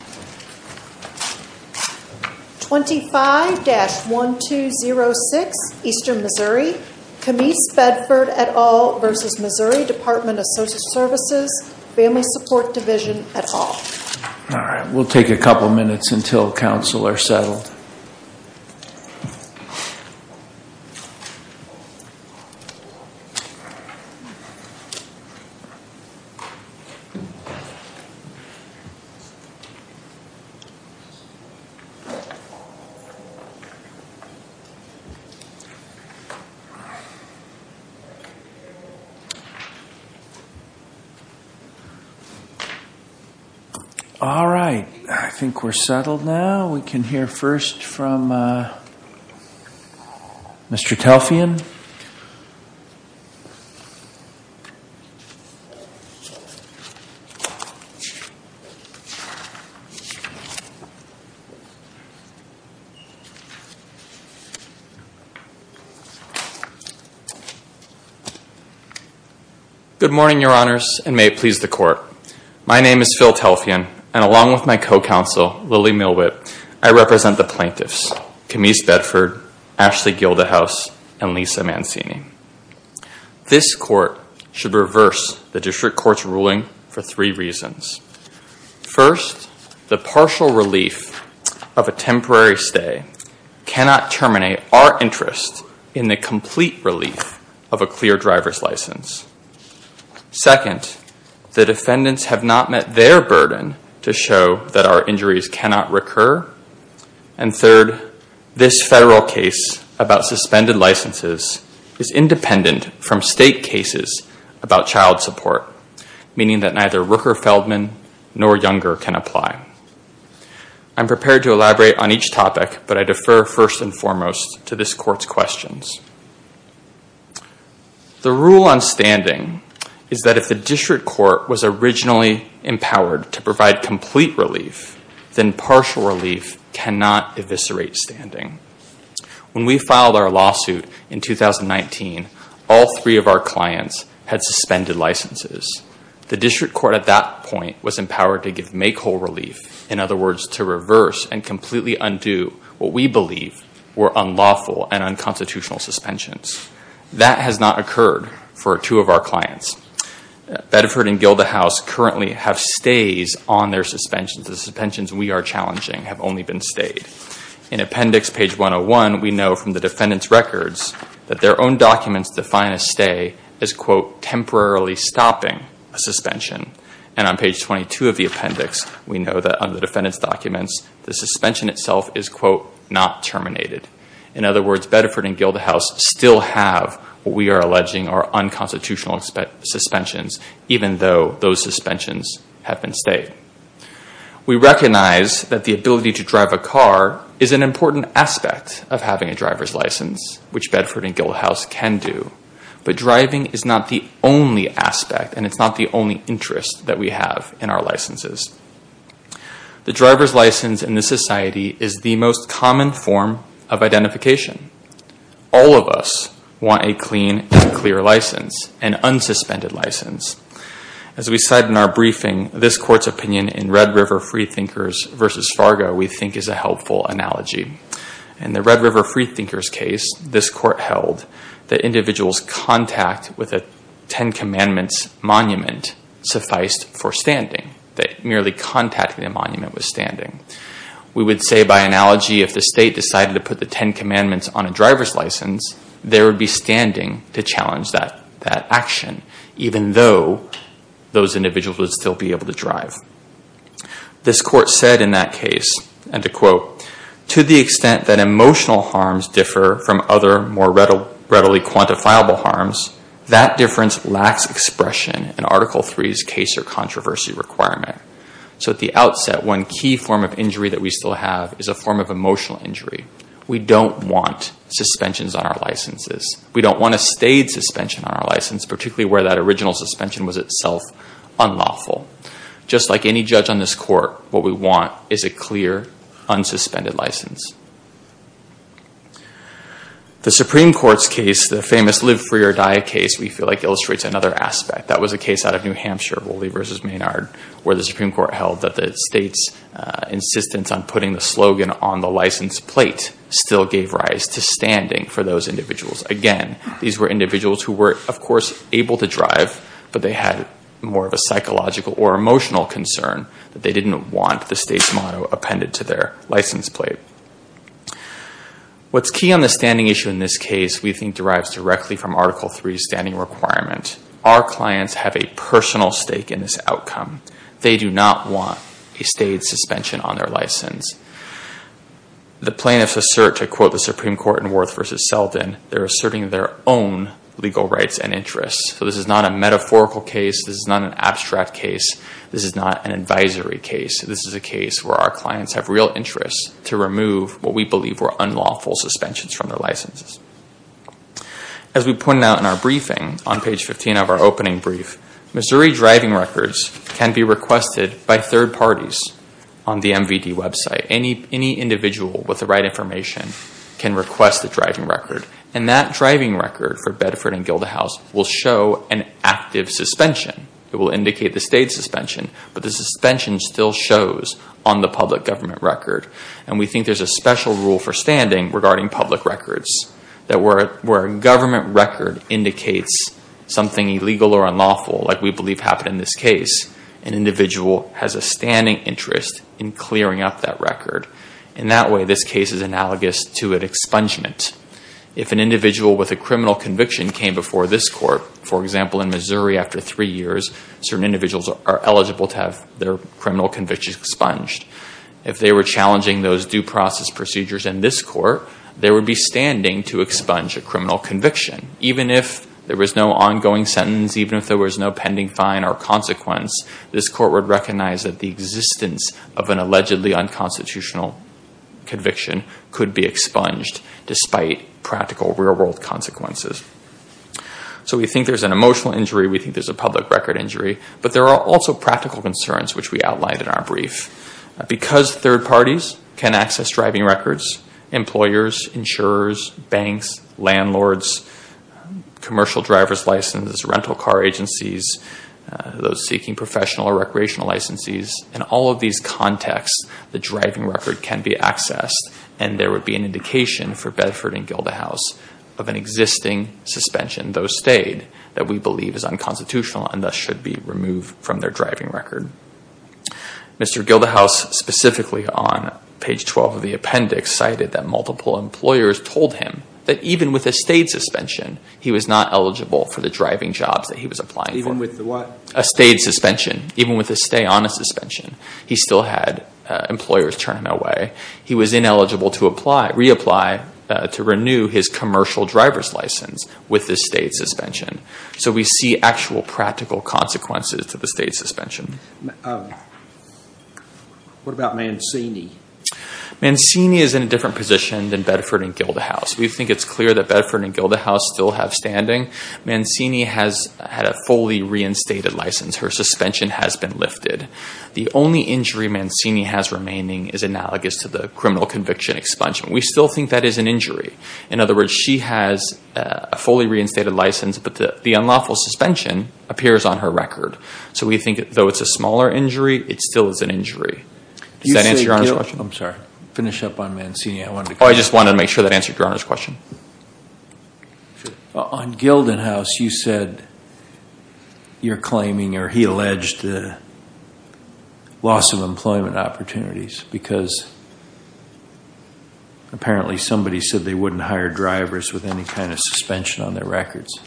All right. We'll take a couple of minutes until council are settled. All right. I think we're settled now. We can hear first from Mr. Telfian. Good morning, your honors, and may it please the court. My name is Phil Telfian, and along with my co-counsel, Lily Milwitt, I represent the plaintiffs, Camise Bedford, Ashley Gildahouse, and Lisa Mancini. This court should reverse the district court's ruling for three reasons. First, the partial relief of a temporary stay cannot terminate our interest in the complete relief of a clear driver's license. Second, the defendants have not met their burden to show that our injuries cannot recur. And third, this federal case about suspended licenses is independent from state cases about child support, meaning that neither Rooker-Feldman nor Younger can apply. I'm prepared to elaborate on each topic, but I defer first and foremost to this court's questions. The rule on standing is that if the district court was originally empowered to provide complete relief, then partial relief cannot eviscerate standing. When we filed our lawsuit in 2019, all three of our clients had suspended licenses. The district court at that point was empowered to give make-whole relief, in other words, to reverse and completely undo what we believe were unlawful and unconstitutional suspensions. That has not occurred for two of our clients. Bedford and Gildahouse currently have stays on their suspensions. The suspensions we are challenging have only been stayed. In appendix page 101, we know from the defendant's records that their own documents define a stay as, quote, temporarily stopping a suspension. And on page 22 of the appendix, we know that under the defendant's documents, the suspension itself is, quote, not terminated. In other words, Bedford and Gildahouse still have what we are alleging are unconstitutional suspensions, even though those suspensions have been stayed. We recognize that the ability to drive a car is an important aspect of having a driver's license, which Bedford and Gildahouse can do. But driving is not the only aspect, and it's not the only interest that we have in our licenses. The driver's license in this society is the most common form of identification. All of us want a clean and clear license, an unsuspended license. As we cite in our briefing, this court's opinion in Red River Freethinkers v. Fargo we think is a helpful analogy. In the Red River Freethinkers case, this court held that individuals' contact with a Ten Commandments monument sufficed for standing, that merely contacting the monument was standing. We would say, by analogy, if the state decided to put the Ten Commandments on a driver's license, they would be standing to challenge that action, even though those individuals would still be able to drive. This court said in that case, and to quote, to the extent that emotional harms differ from other, more readily quantifiable harms, that difference lacks expression in Article III's case or controversy requirement. So at the outset, one key form of injury that we still have is a form of emotional injury. We don't want suspensions on our licenses. We don't want a staid suspension on our license, particularly where that original suspension was itself unlawful. Just like any judge on this court, what we want is a clear, unsuspended license. The Supreme Court's case, the famous Live Free or Die case, we feel like illustrates another aspect. That was a case out of New Hampshire, Woolley v. Maynard, where the Supreme Court held that the state's insistence on putting the slogan on the license plate still gave rise to standing for those individuals. Again, these were individuals who were, of course, able to drive, but they had more of a psychological or emotional concern that they didn't want the state's motto appended to their license plate. What's key on the standing issue in this case we think derives directly from Article III's standing requirement. Our clients have a personal stake in this outcome. They do not want a staid suspension on their license. The plaintiffs assert, to quote the Supreme Court in Worth v. Selden, they're asserting their own legal rights and interests. This is not a metaphorical case. This is not an abstract case. This is not an advisory case. This is a case where our clients have real interest to remove what we believe were unlawful suspensions from their licenses. As we pointed out in our briefing on page 15 of our opening brief, Missouri driving records can be requested by third parties on the MVD website. Any individual with the right information can request a driving record, and that driving record for Bedford and Gildahouse will show an active suspension. It will indicate the state's suspension, but the suspension still shows on the public government record. We think there's a special rule for standing regarding public records where a government record indicates something illegal or unlawful, like we believe happened in this case. An individual has a standing interest in clearing up that record. In that way, this case is analogous to an expungement. If an individual with a criminal conviction came before this court, for example, in Missouri after three years, certain individuals are eligible to have their criminal convictions expunged. If they were challenging those due process procedures in this court, they would be standing to expunge a criminal conviction. Even if there was no ongoing sentence, even if there was no pending fine or consequence, this court would recognize that the existence of an allegedly unconstitutional conviction could be expunged despite practical real-world consequences. So we think there's an emotional injury. We think there's a public record injury. But there are also practical concerns, which we outlined in our brief. Because third parties can access driving records, employers, insurers, banks, landlords, commercial driver's licenses, rental car agencies, those seeking professional or recreational licenses, in all of these contexts, the driving record can be accessed and there would be an indication for Bedford and Gilda House of an existing suspension, though stayed, that we believe is unconstitutional and thus should be removed from their driving record. Mr. Gilda House, specifically on page 12 of the appendix, cited that multiple employers told him that even with a stayed suspension, he was not eligible for the driving jobs that he was applying for. Even with the what? A stayed suspension. Even with a stay on a suspension. He still had employers turning away. He was ineligible to reapply to renew his commercial driver's license with the stayed suspension. So we see actual practical consequences to the stayed suspension. What about Mancini? Mancini is in a different position than Bedford and Gilda House. We think it's clear that Bedford and Gilda House still have standing. Mancini has had a fully reinstated license. Her suspension has been lifted. The only injury Mancini has remaining is analogous to the criminal conviction expungement. We still think that is an injury. In other words, she has a fully reinstated license, but the unlawful suspension appears on her record. So we think that though it's a smaller injury, it still is an injury. Does that answer your Honor's question? I'm sorry. Finish up on Mancini. I just wanted to make sure that answered your Honor's question. On Gilda House, you said you're claiming or he alleged the loss of employment opportunities because apparently somebody said they wouldn't hire drivers with any kind of suspension on their records.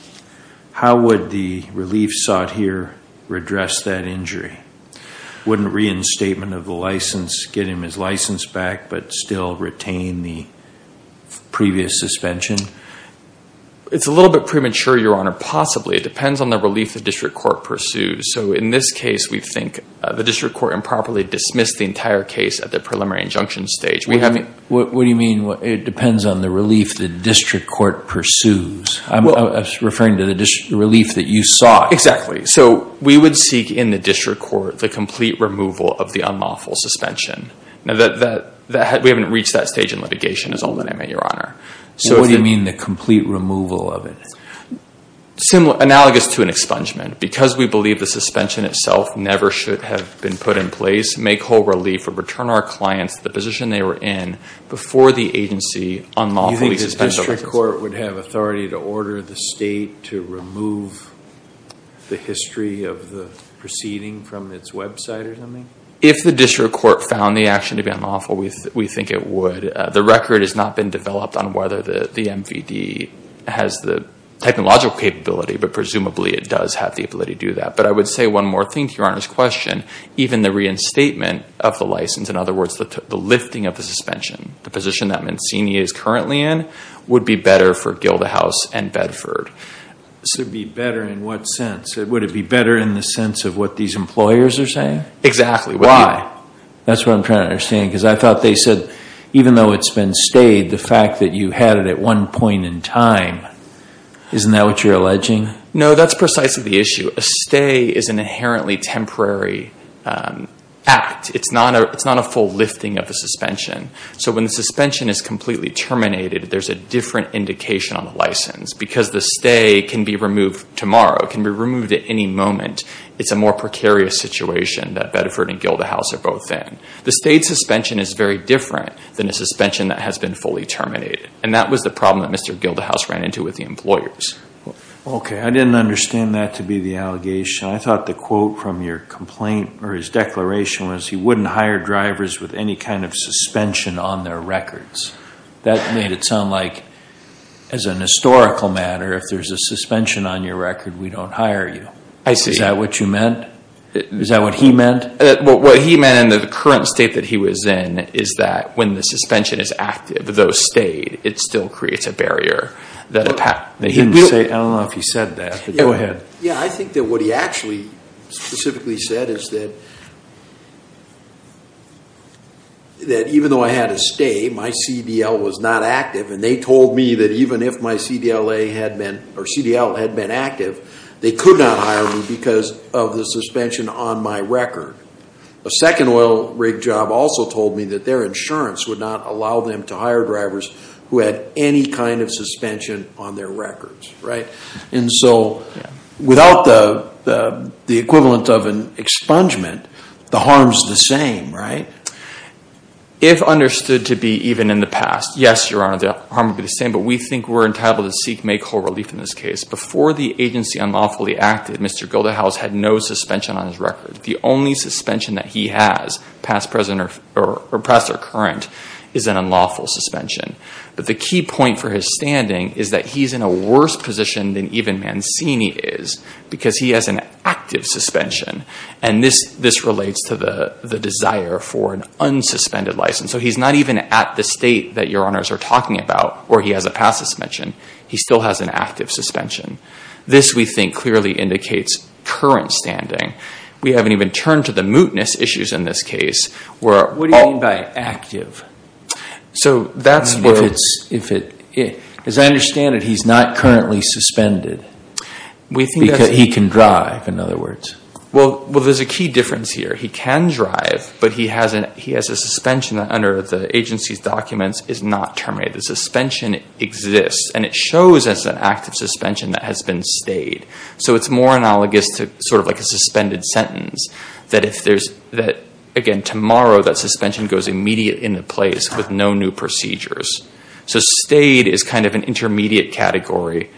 How would the relief sought here redress that injury? Wouldn't reinstatement of the license get him his license back but still retain the previous suspension? It's a little bit premature, Your Honor. Possibly. It depends on the relief the district court pursues. So in this case, we think the district court improperly dismissed the entire case at the preliminary injunction stage. What do you mean it depends on the relief the district court pursues? I'm referring to the relief that you sought. So we would seek in the district court the complete removal of the unlawful suspension. We haven't reached that stage in litigation is all that I meant, Your Honor. What do you mean the complete removal of it? Analogous to an expungement. Because we believe the suspension itself never should have been put in place, make whole relief or return our clients the position they were in before the agency unlawfully suspended. You think the district court would have authority to order the state to remove the history of the proceeding from its website or something? If the district court found the action to be unlawful, we think it would. The record has not been developed on whether the MVD has the technological capability, but presumably it does have the ability to do that. But I would say one more thing to Your Honor's question. Even the reinstatement of the license, in other words, the lifting of the suspension, the position that Mancini is currently in would be better for Gildahouse and Bedford. So it would be better in what sense? Would it be better in the sense of what these employers are saying? Exactly. Why? That's what I'm trying to understand, because I thought they said even though it's been stayed, the fact that you had it at one point in time, isn't that what you're alleging? No, that's precisely the issue. A stay is an inherently temporary act. It's not a full lifting of a suspension. So when the suspension is completely terminated, there's a different indication on the license. Because the stay can be removed tomorrow. It can be removed at any moment. It's a more precarious situation that Bedford and Gildahouse are both in. The stayed suspension is very different than a suspension that has been fully terminated. And that was the problem that Mr. Gildahouse ran into with the employers. Okay. I didn't understand that to be the allegation. I thought the quote from your complaint, or his declaration, was he wouldn't hire drivers with any kind of suspension on their records. That made it sound like, as an historical matter, if there's a suspension on your record, we don't hire you. I see. Is that what you meant? Is that what he meant? What he meant in the current state that he was in is that when the suspension is active, though stayed, it still creates a barrier. I don't know if he said that. Go ahead. Yeah, I think that what he actually specifically said is that even though I had a stay, my CDL was not active. And they told me that even if my CDLA had been, or CDL had been active, they could not hire me because of the suspension on my record. A second oil rig job also told me that their insurance would not allow them to hire drivers who had any kind of suspension on their records, right? And so without the equivalent of an expungement, the harm is the same, right? If understood to be even in the past, yes, Your Honor, the harm would be the same. But we think we're entitled to seek and make whole relief in this case. Before the agency unlawfully acted, Mr. Goldehouse had no suspension on his record. The only suspension that he has, past or current, is an unlawful suspension. But the key point for his standing is that he's in a worse position than even Mancini is because he has an active suspension. And this relates to the desire for an unsuspended license. So he's not even at the state that Your Honors are talking about where he has a past suspension. He still has an active suspension. This, we think, clearly indicates current standing. We haven't even turned to the mootness issues in this case. What do you mean by active? As I understand it, he's not currently suspended because he can drive, in other words. Well, there's a key difference here. He can drive, but he has a suspension that under the agency's documents is not terminated. The suspension exists, and it shows as an active suspension that has been stayed. So it's more analogous to sort of like a suspended sentence that if there's, again, tomorrow that suspension goes immediate into place with no new procedures. So stayed is kind of an intermediate category,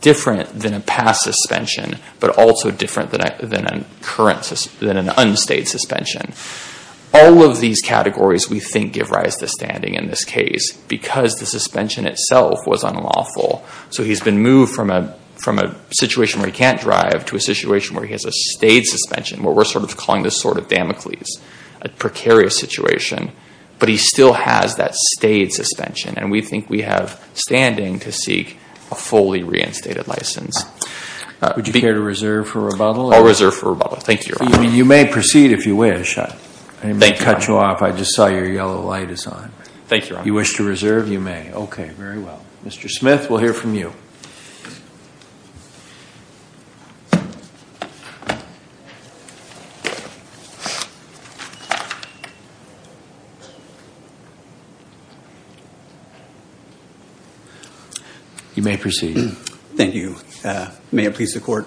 different than a past suspension, but also different than an unstayed suspension. All of these categories, we think, give rise to standing in this case because the suspension itself was unlawful. So he's been moved from a situation where he can't drive to a situation where he has a stayed suspension, what we're sort of calling the sort of Damocles, a precarious situation. But he still has that stayed suspension, and we think we have standing to seek a fully reinstated license. Would you care to reserve for rebuttal? I'll reserve for rebuttal. Thank you, Your Honor. You may proceed if you wish. I didn't mean to cut you off. I just saw your yellow light is on. Thank you, Your Honor. You wish to reserve? You may. Okay, very well. Mr. Smith, we'll hear from you. You may proceed. Thank you. May it please the Court.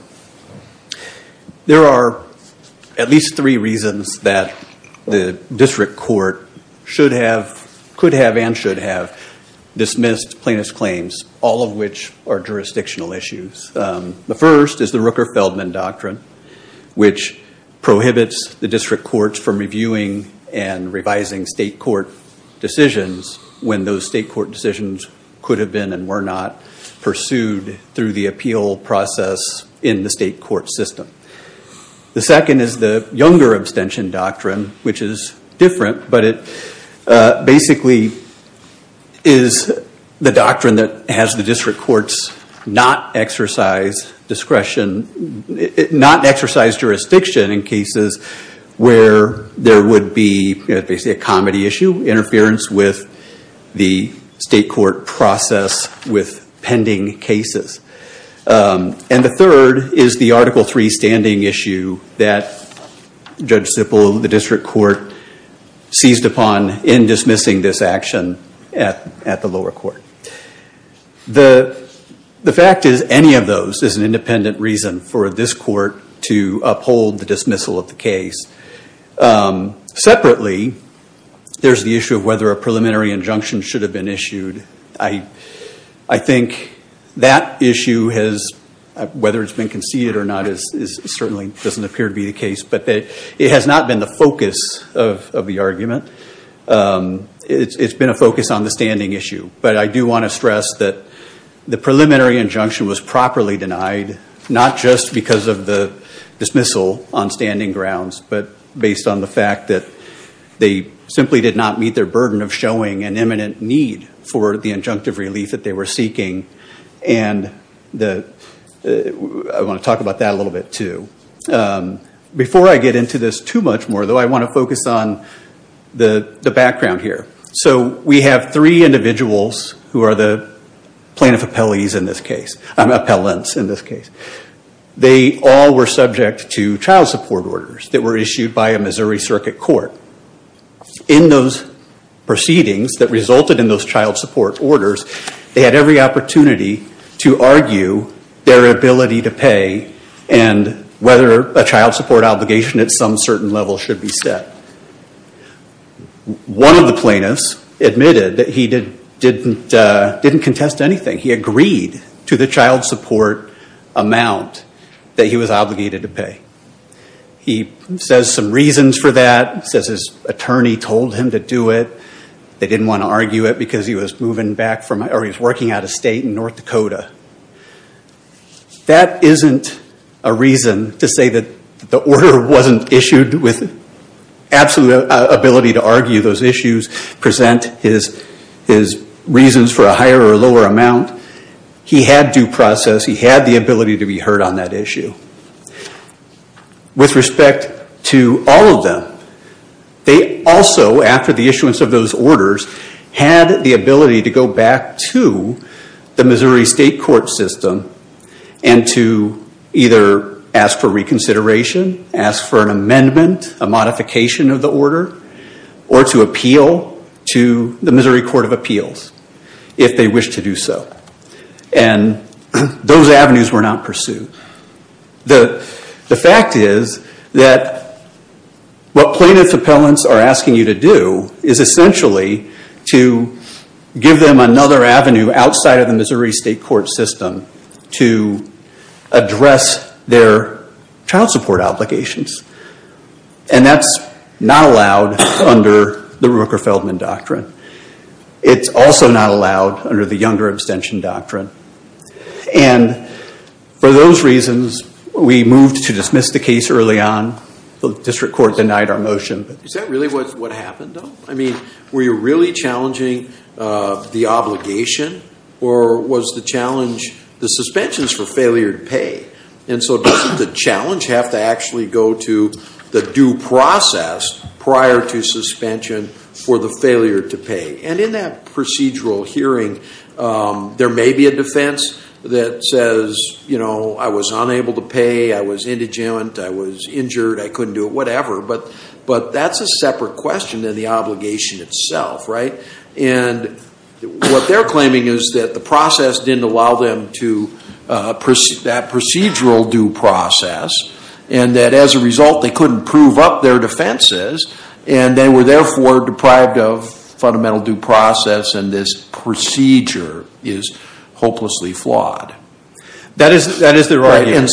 There are at least three reasons that the district court could have and should have dismissed plaintiff's claims, all of which are jurisdictional issues. The first is the Rooker-Feldman Doctrine, which prohibits the district courts from reviewing and revising state court decisions when those state court decisions could have been and were not pursued through the appeal process in the state court system. The second is the Younger Abstention Doctrine, which is different, but it basically is the doctrine that has the district courts not exercise discretion, not exercise jurisdiction in cases where there would be basically a comedy issue, interference with the state court process with pending cases. And the third is the Article III standing issue that Judge Sippel, the district court, seized upon in dismissing this action at the lower court. The fact is any of those is an independent reason for this court to uphold the dismissal of the case. Separately, there's the issue of whether a preliminary injunction should have been issued. I think that issue, whether it's been conceded or not, certainly doesn't appear to be the case, but it has not been the focus of the argument. It's been a focus on the standing issue, but I do want to stress that the preliminary injunction was properly denied, not just because of the dismissal on standing grounds, but based on the fact that they simply did not meet their burden of showing an imminent need for the injunctive relief that they were seeking. And I want to talk about that a little bit, too. Before I get into this too much more, though, I want to focus on the background here. So we have three individuals who are the plaintiff appellants in this case. They all were subject to child support orders that were issued by a Missouri circuit court. In those proceedings that resulted in those child support orders, they had every opportunity to argue their ability to pay and whether a child support obligation at some certain level should be set. One of the plaintiffs admitted that he didn't contest anything. He agreed to the child support amount that he was obligated to pay. He says some reasons for that. He says his attorney told him to do it. They didn't want to argue it because he was working out of state in North Dakota. That isn't a reason to say that the order wasn't issued with absolute ability to argue those issues, present his reasons for a higher or lower amount. He had due process. He had the ability to be heard on that issue. With respect to all of them, they also, after the issuance of those orders, had the ability to go back to the Missouri state court system and to either ask for reconsideration, ask for an amendment, a modification of the order, or to appeal to the Missouri Court of Appeals if they wished to do so. Those avenues were not pursued. The fact is that what plaintiff's appellants are asking you to do is essentially to give them another avenue outside of the Missouri state court system to address their child support obligations. That's not allowed under the Rooker-Feldman Doctrine. It's also not allowed under the Younger Abstention Doctrine. For those reasons, we moved to dismiss the case early on. The district court denied our motion. Is that really what happened, though? Were you really challenging the obligation, or was the challenge the suspensions for failure to pay? Doesn't the challenge have to actually go to the due process prior to suspension for the failure to pay? In that procedural hearing, there may be a defense that says, I was unable to pay, I was indigent, I was injured, I couldn't do it, whatever, but that's a separate question than the obligation itself. What they're claiming is that the process didn't allow them to proceed that procedural due process, and that as a result, they couldn't prove up their defenses, and they were therefore deprived of fundamental due process, and this procedure is hopelessly flawed. That is their argument.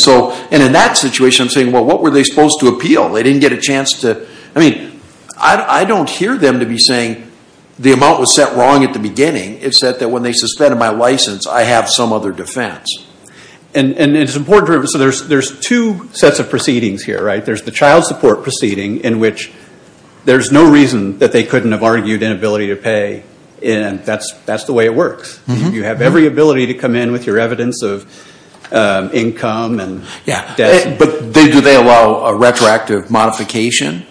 And in that situation, I'm saying, well, what were they supposed to appeal? They didn't get a chance to, I mean, I don't hear them to be saying the amount was set wrong at the beginning. It said that when they suspended my license, I have some other defense. And it's important, so there's two sets of proceedings here, right? There's the child support proceeding, in which there's no reason that they couldn't have argued inability to pay, and that's the way it works. You have every ability to come in with your evidence of income and debt. But do they allow a retroactive modification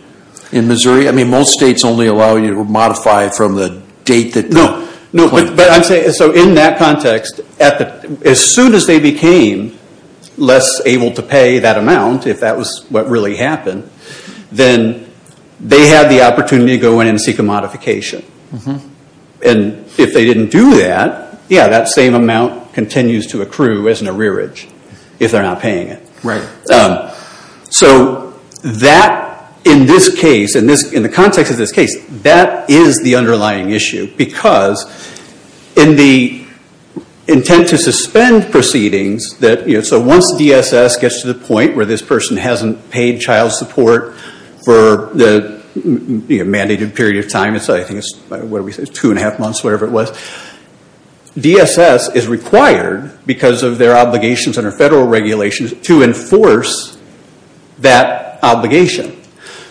in Missouri? I mean, most states only allow you to modify from the date that you claim. No, but I'm saying, so in that context, as soon as they became less able to pay that amount, if that was what really happened, then they had the opportunity to go in and seek a modification. And if they didn't do that, yeah, that same amount continues to accrue as an arrearage if they're not paying it. Right. So that, in this case, in the context of this case, that is the underlying issue, because in the intent to suspend proceedings, so once DSS gets to the point where this person hasn't paid child support for the mandated period of time, I think it's two and a half months, whatever it was, DSS is required, because of their obligations under federal regulations, to enforce that obligation.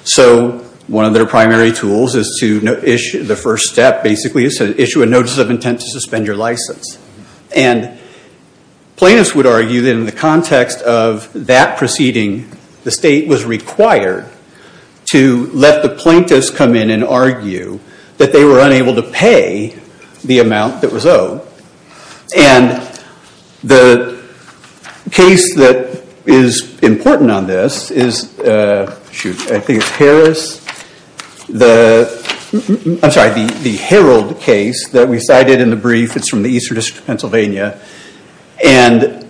So one of their primary tools, the first step, basically, is to issue a notice of intent to suspend your license. And plaintiffs would argue that in the context of that proceeding, the state was required to let the plaintiffs come in and argue that they were unable to pay the amount that was owed. And the case that is important on this is, shoot, I think it's Harris. I'm sorry, the Herald case that we cited in the brief. It's from the Eastern District of Pennsylvania. And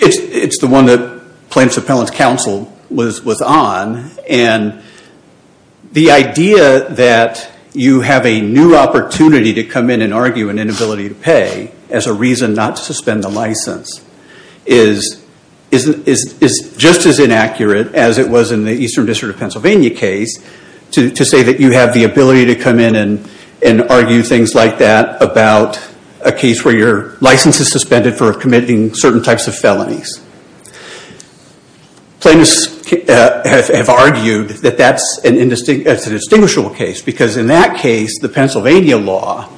it's the one that Plaintiffs Appellant's counsel was on. And the idea that you have a new opportunity to come in and argue an inability to pay as a reason not to suspend the license is just as inaccurate as it was in the Eastern District of Pennsylvania case to say that you have the ability to come in and argue things like that about a case where your license is suspended for committing certain types of felonies. Plaintiffs have argued that that's a distinguishable case, because in that case, the Pennsylvania law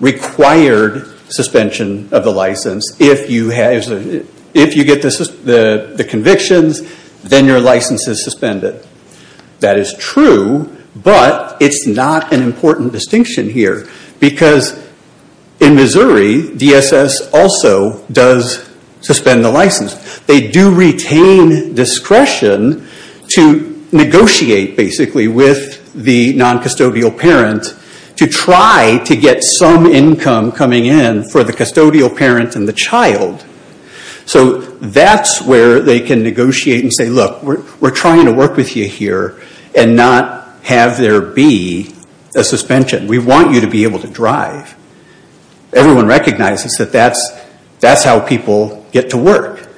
required suspension of the license if you get the convictions, then your license is suspended. That is true, but it's not an important distinction here. Because in Missouri, DSS also does suspend the license. They do retain discretion to negotiate, basically, with the noncustodial parent to try to get some income coming in for the custodial parent and the child. So that's where they can negotiate and say, look, we're trying to work with you here and not have there be a suspension. We want you to be able to drive. Everyone recognizes that that's how people get to work.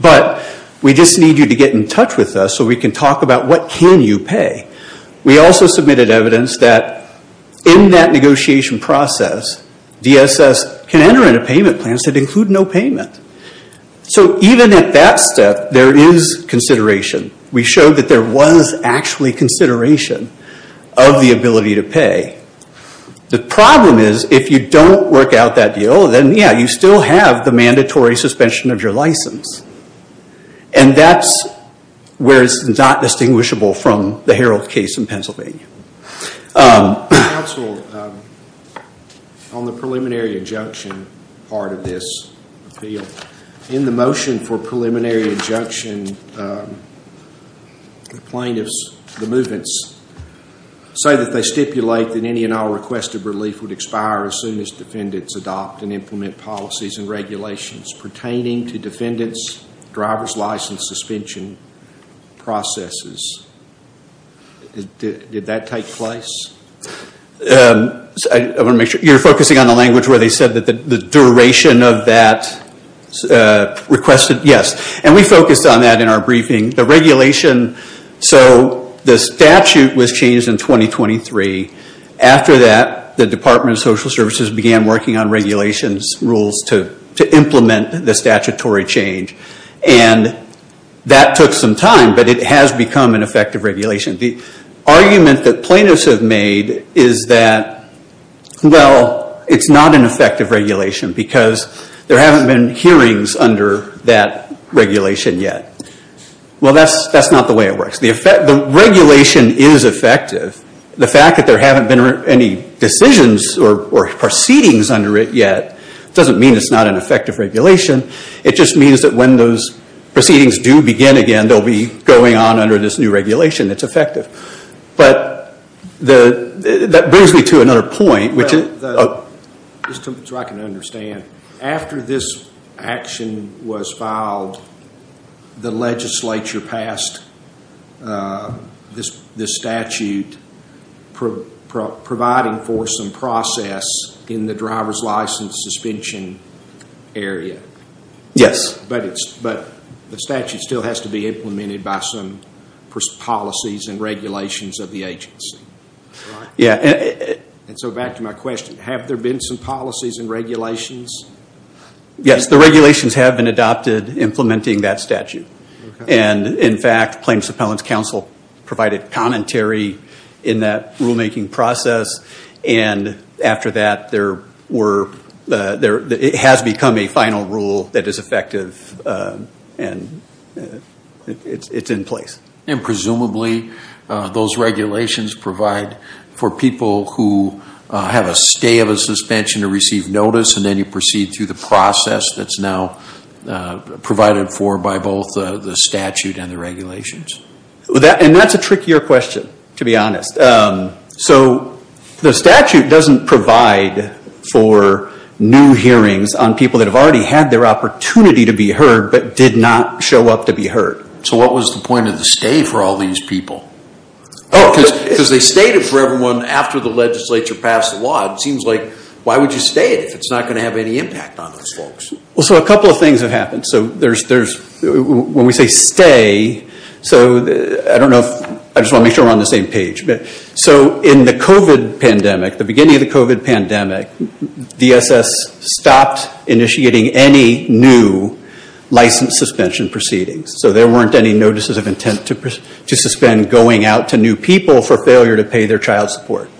But we just need you to get in touch with us so we can talk about what can you pay. We also submitted evidence that in that negotiation process, DSS can enter into payment plans that include no payment. So even at that step, there is consideration. We showed that there was actually consideration of the ability to pay. The problem is, if you don't work out that deal, then, yeah, you still have the mandatory suspension of your license. And that's where it's not distinguishable from the Harold case in Pennsylvania. Counsel, on the preliminary injunction part of this appeal, in the motion for preliminary injunction, the plaintiffs, the movements, say that they stipulate that any and all request of relief would expire as soon as defendants adopt and implement policies and regulations pertaining to defendants' driver's license suspension processes. Did that take place? I want to make sure. You're focusing on the language where they said that the duration of that requested? Yes. And we focused on that in our briefing. The regulation, so the statute was changed in 2023. After that, the Department of Social Services began working on regulations, rules to implement the statutory change. And that took some time, but it has become an effective regulation. The argument that plaintiffs have made is that, well, it's not an effective regulation because there haven't been hearings under that regulation yet. Well, that's not the way it works. The regulation is effective. The fact that there haven't been any decisions or proceedings under it yet doesn't mean it's not an effective regulation. It just means that when those proceedings do begin again, they'll be going on under this new regulation. It's effective. But that brings me to another point. Just so I can understand, after this action was filed, the legislature passed this statute providing for some process in the driver's license suspension area. Yes. But the statute still has to be implemented by some policies and regulations of the agency. Yeah. And so back to my question. Have there been some policies and regulations? Yes. The regulations have been adopted implementing that statute. And, in fact, Plaintiffs Appellants Council provided commentary in that rulemaking process. And after that, it has become a final rule that is effective and it's in place. And, presumably, those regulations provide for people who have a stay of a suspension or receive notice and then you proceed through the process that's now provided for by both the statute and the regulations. And that's a trickier question, to be honest. So the statute doesn't provide for new hearings on people that have already had their opportunity to be heard but did not show up to be heard. So what was the point of the stay for all these people? Oh, because they stayed it for everyone after the legislature passed the law. It seems like why would you stay it if it's not going to have any impact on those folks? Well, so a couple of things have happened. So when we say stay, so I don't know if – I just want to make sure we're on the same page. So in the COVID pandemic, the beginning of the COVID pandemic, DSS stopped initiating any new license suspension proceedings. So there weren't any notices of intent to suspend going out to new people for failure to pay their child support.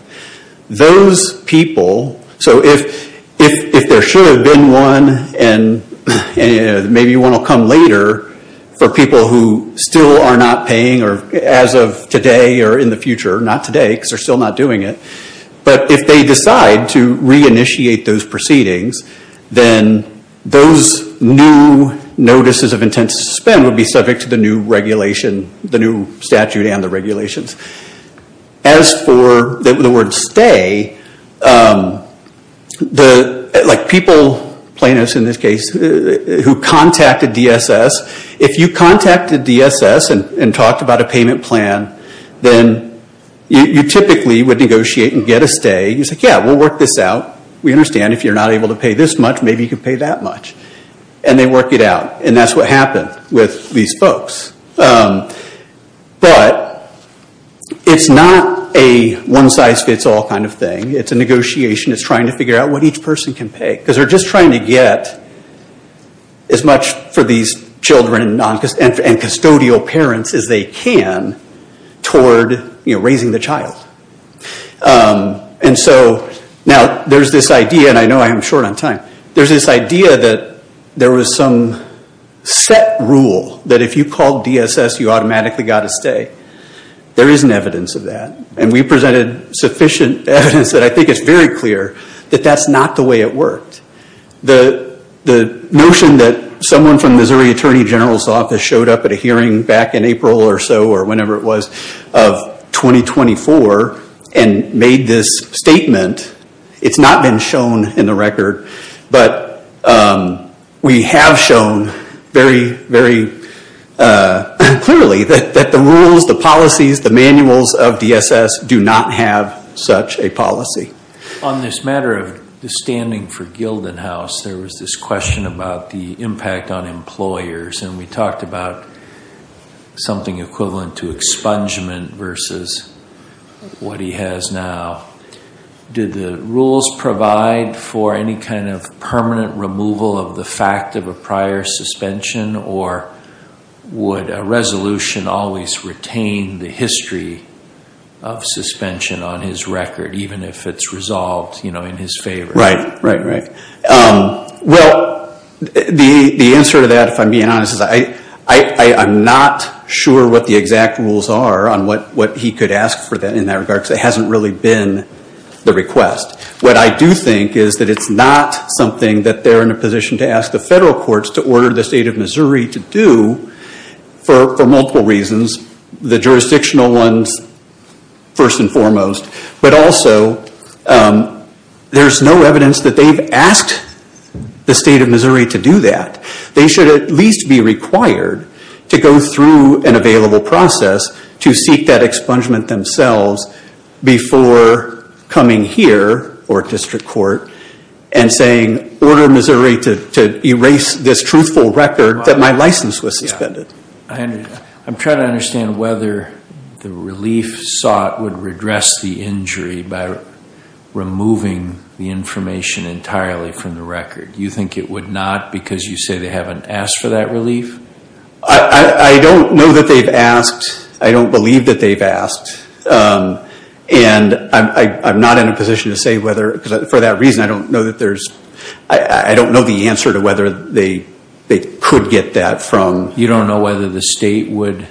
Those people – so if there should have been one and maybe one will come later for people who still are not paying as of today or in the future – not today because they're still not doing it – but if they decide to reinitiate those proceedings, then those new notices of intent to suspend would be subject to the new regulation, the new statute and the regulations. As for the word stay, like people, plaintiffs in this case, who contacted DSS, if you contacted DSS and talked about a payment plan, then you typically would negotiate and get a stay. You say, yeah, we'll work this out. We understand if you're not able to pay this much, maybe you can pay that much. And they work it out. And that's what happened with these folks. But it's not a one-size-fits-all kind of thing. It's a negotiation. It's trying to figure out what each person can pay because they're just trying to get as much for these children and custodial parents as they can toward raising the child. And so now there's this idea – and I know I am short on time – there's this idea that there was some set rule that if you called DSS, you automatically got a stay. There isn't evidence of that. And we presented sufficient evidence that I think is very clear that that's not the way it worked. The notion that someone from Missouri Attorney General's Office showed up at a hearing back in April or so or whenever it was of 2024 and made this statement, it's not been shown in the record. But we have shown very, very clearly that the rules, the policies, the manuals of DSS do not have such a policy. On this matter of the standing for Gildan House, there was this question about the impact on employers. And we talked about something equivalent to expungement versus what he has now. Did the rules provide for any kind of permanent removal of the fact of a prior suspension or would a resolution always retain the history of suspension on his record, even if it's resolved in his favor? Right, right, right. Well, the answer to that, if I'm being honest, is I'm not sure what the exact rules are on what he could ask for in that regard because it hasn't really been the request. What I do think is that it's not something that they're in a position to ask the federal courts to order the State of Missouri to do for multiple reasons, the jurisdictional ones first and foremost. But also, there's no evidence that they've asked the State of Missouri to do that. They should at least be required to go through an available process to seek that expungement themselves before coming here or district court and saying, order Missouri to erase this truthful record that my license was suspended. I'm trying to understand whether the relief sought would redress the injury by removing the information entirely from the record. Do you think it would not because you say they haven't asked for that relief? I don't know that they've asked. I don't believe that they've asked. And I'm not in a position to say whether, for that reason, I don't know that there's, I don't know the answer to whether they could get that from. You don't know whether the state would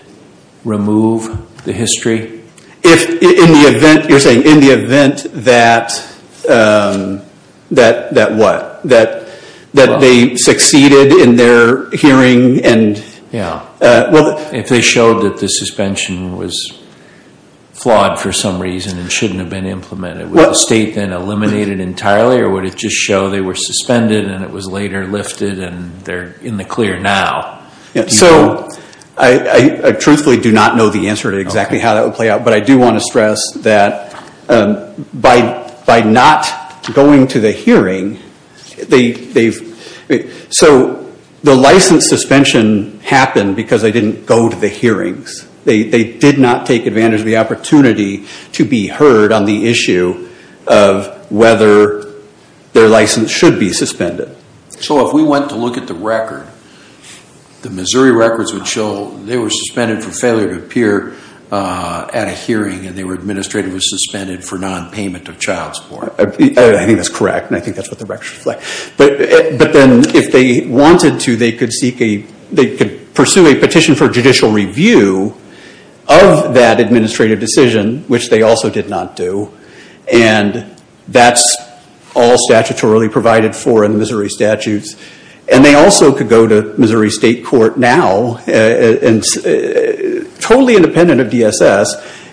remove the history? If, in the event, you're saying in the event that, that what? That they succeeded in their hearing and. Yeah. If they showed that the suspension was flawed for some reason and shouldn't have been implemented, would the state then eliminate it entirely or would it just show they were suspended and it was later lifted and they're in the clear now? So, I truthfully do not know the answer to exactly how that would play out. But I do want to stress that by not going to the hearing, they've. So, the license suspension happened because they didn't go to the hearings. They did not take advantage of the opportunity to be heard on the issue of whether their license should be suspended. So, if we went to look at the record, the Missouri records would show they were suspended for failure to appear at a hearing and they were administratively suspended for nonpayment of child support. I think that's correct and I think that's what the records reflect. But then if they wanted to, they could seek a, they could pursue a petition for judicial review of that administrative decision, which they also did not do. And that's all statutorily provided for in Missouri statutes. And they also could go to Missouri State Court now, totally independent of DSS,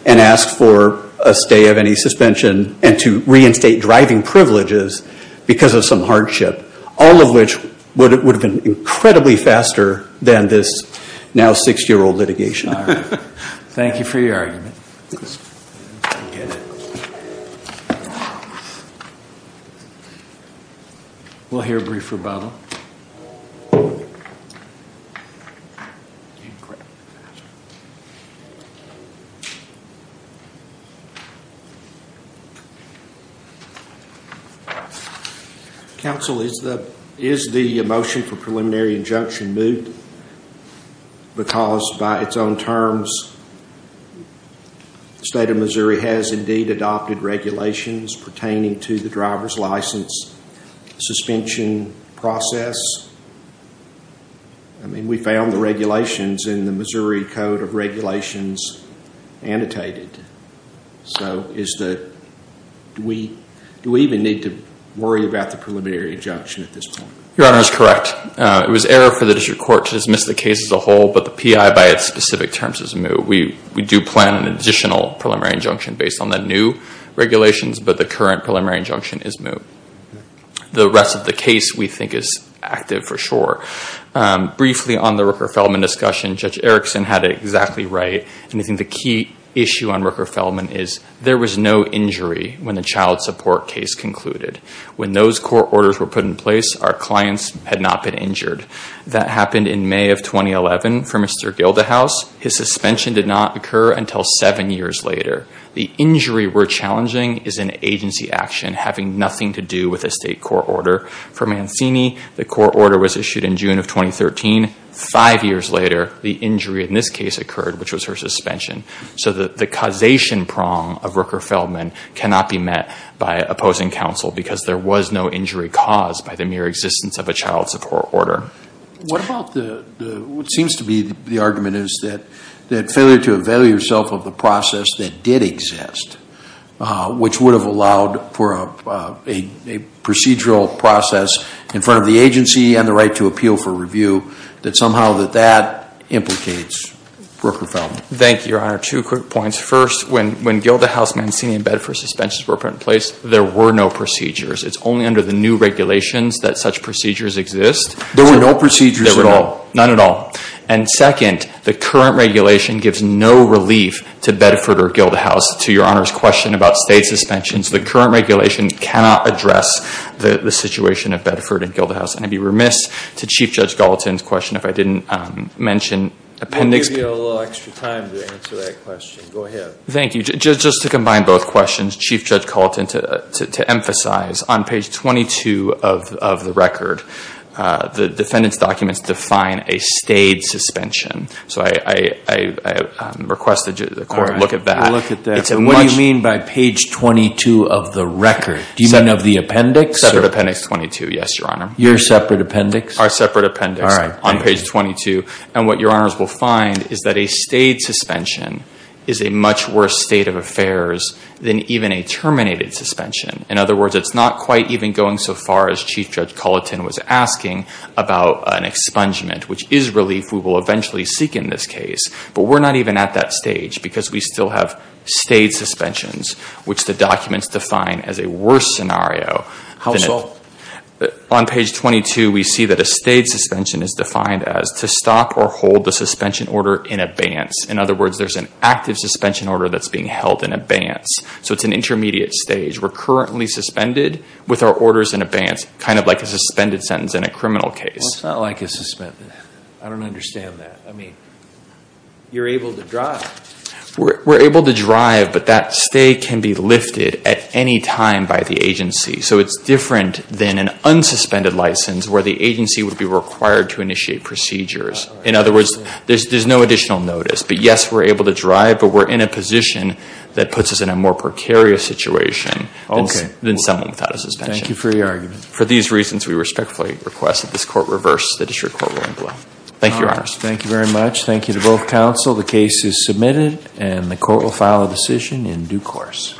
and ask for a stay of any suspension and to reinstate driving privileges because of some hardship, all of which would have been incredibly faster than this now six-year-old litigation. Thank you for your argument. We'll hear a brief rebuttal. Counsel, is the motion for preliminary injunction moved because by its own terms, the State of Missouri has indeed adopted regulations pertaining to the driver's license suspension process? I mean, we found the regulations in the Missouri Code of Regulations annotated. So, is the, do we even need to worry about the preliminary injunction at this point? Your Honor, it's correct. It was error for the district court to dismiss the case as a whole, but the PI by its specific terms is moved. We do plan an additional preliminary injunction based on the new regulations, but the current preliminary injunction is moved. The rest of the case we think is active for sure. Briefly on the Rooker-Feldman discussion, Judge Erickson had it exactly right. And I think the key issue on Rooker-Feldman is there was no injury when the child support case concluded. When those court orders were put in place, our clients had not been injured. That happened in May of 2011 for Mr. Gildahouse. His suspension did not occur until seven years later. The injury we're challenging is an agency action having nothing to do with a state court order. For Mancini, the court order was issued in June of 2013. Five years later, the injury in this case occurred, which was her suspension. So, the causation prong of Rooker-Feldman cannot be met by opposing counsel because there was no injury caused by the mere existence of a child support order. What about the, what seems to be the argument is that failure to avail yourself of the process that did exist, which would have allowed for a procedural process in front of the agency and the right to appeal for review, that somehow that that implicates Rooker-Feldman. Thank you, Your Honor. Two quick points. First, when Gildahouse, Mancini, and Bedford suspensions were put in place, there were no procedures. It's only under the new regulations that such procedures exist. There were no procedures at all? None at all. And second, the current regulation gives no relief to Bedford or Gildahouse. To Your Honor's question about state suspensions, the current regulation cannot address the situation at Bedford and Gildahouse. And I'd be remiss to Chief Judge Gallatin's question if I didn't mention appendix. We'll give you a little extra time to answer that question. Go ahead. Thank you. Just to combine both questions, Chief Judge Gallatin, to emphasize, on page 22 of the record, the defendant's documents define a stayed suspension. So I request that the court look at that. Look at that. And what do you mean by page 22 of the record? Do you mean of the appendix? Separate appendix 22, yes, Your Honor. Your separate appendix? Our separate appendix. All right. On page 22. And what Your Honors will find is that a stayed suspension is a much worse state of affairs than even a terminated suspension. In other words, it's not quite even going so far as Chief Judge Gallatin was asking about an expungement, which is relief we will eventually seek in this case. But we're not even at that stage because we still have stayed suspensions, which the documents define as a worse scenario. How so? On page 22, we see that a stayed suspension is defined as to stop or hold the suspension order in advance. In other words, there's an active suspension order that's being held in advance. So it's an intermediate stage. We're currently suspended with our orders in advance, kind of like a suspended sentence in a criminal case. Well, it's not like a suspended. I don't understand that. I mean, you're able to drive. We're able to drive, but that stay can be lifted at any time by the agency. So it's different than an unsuspended license where the agency would be required to initiate procedures. In other words, there's no additional notice. But, yes, we're able to drive, but we're in a position that puts us in a more precarious situation than someone without a suspension. Thank you for your argument. For these reasons, we respectfully request that this court reverse the district court ruling below. Thank you, Your Honor. Thank you very much. Thank you to both counsel. The case is submitted, and the court will file a decision in due course.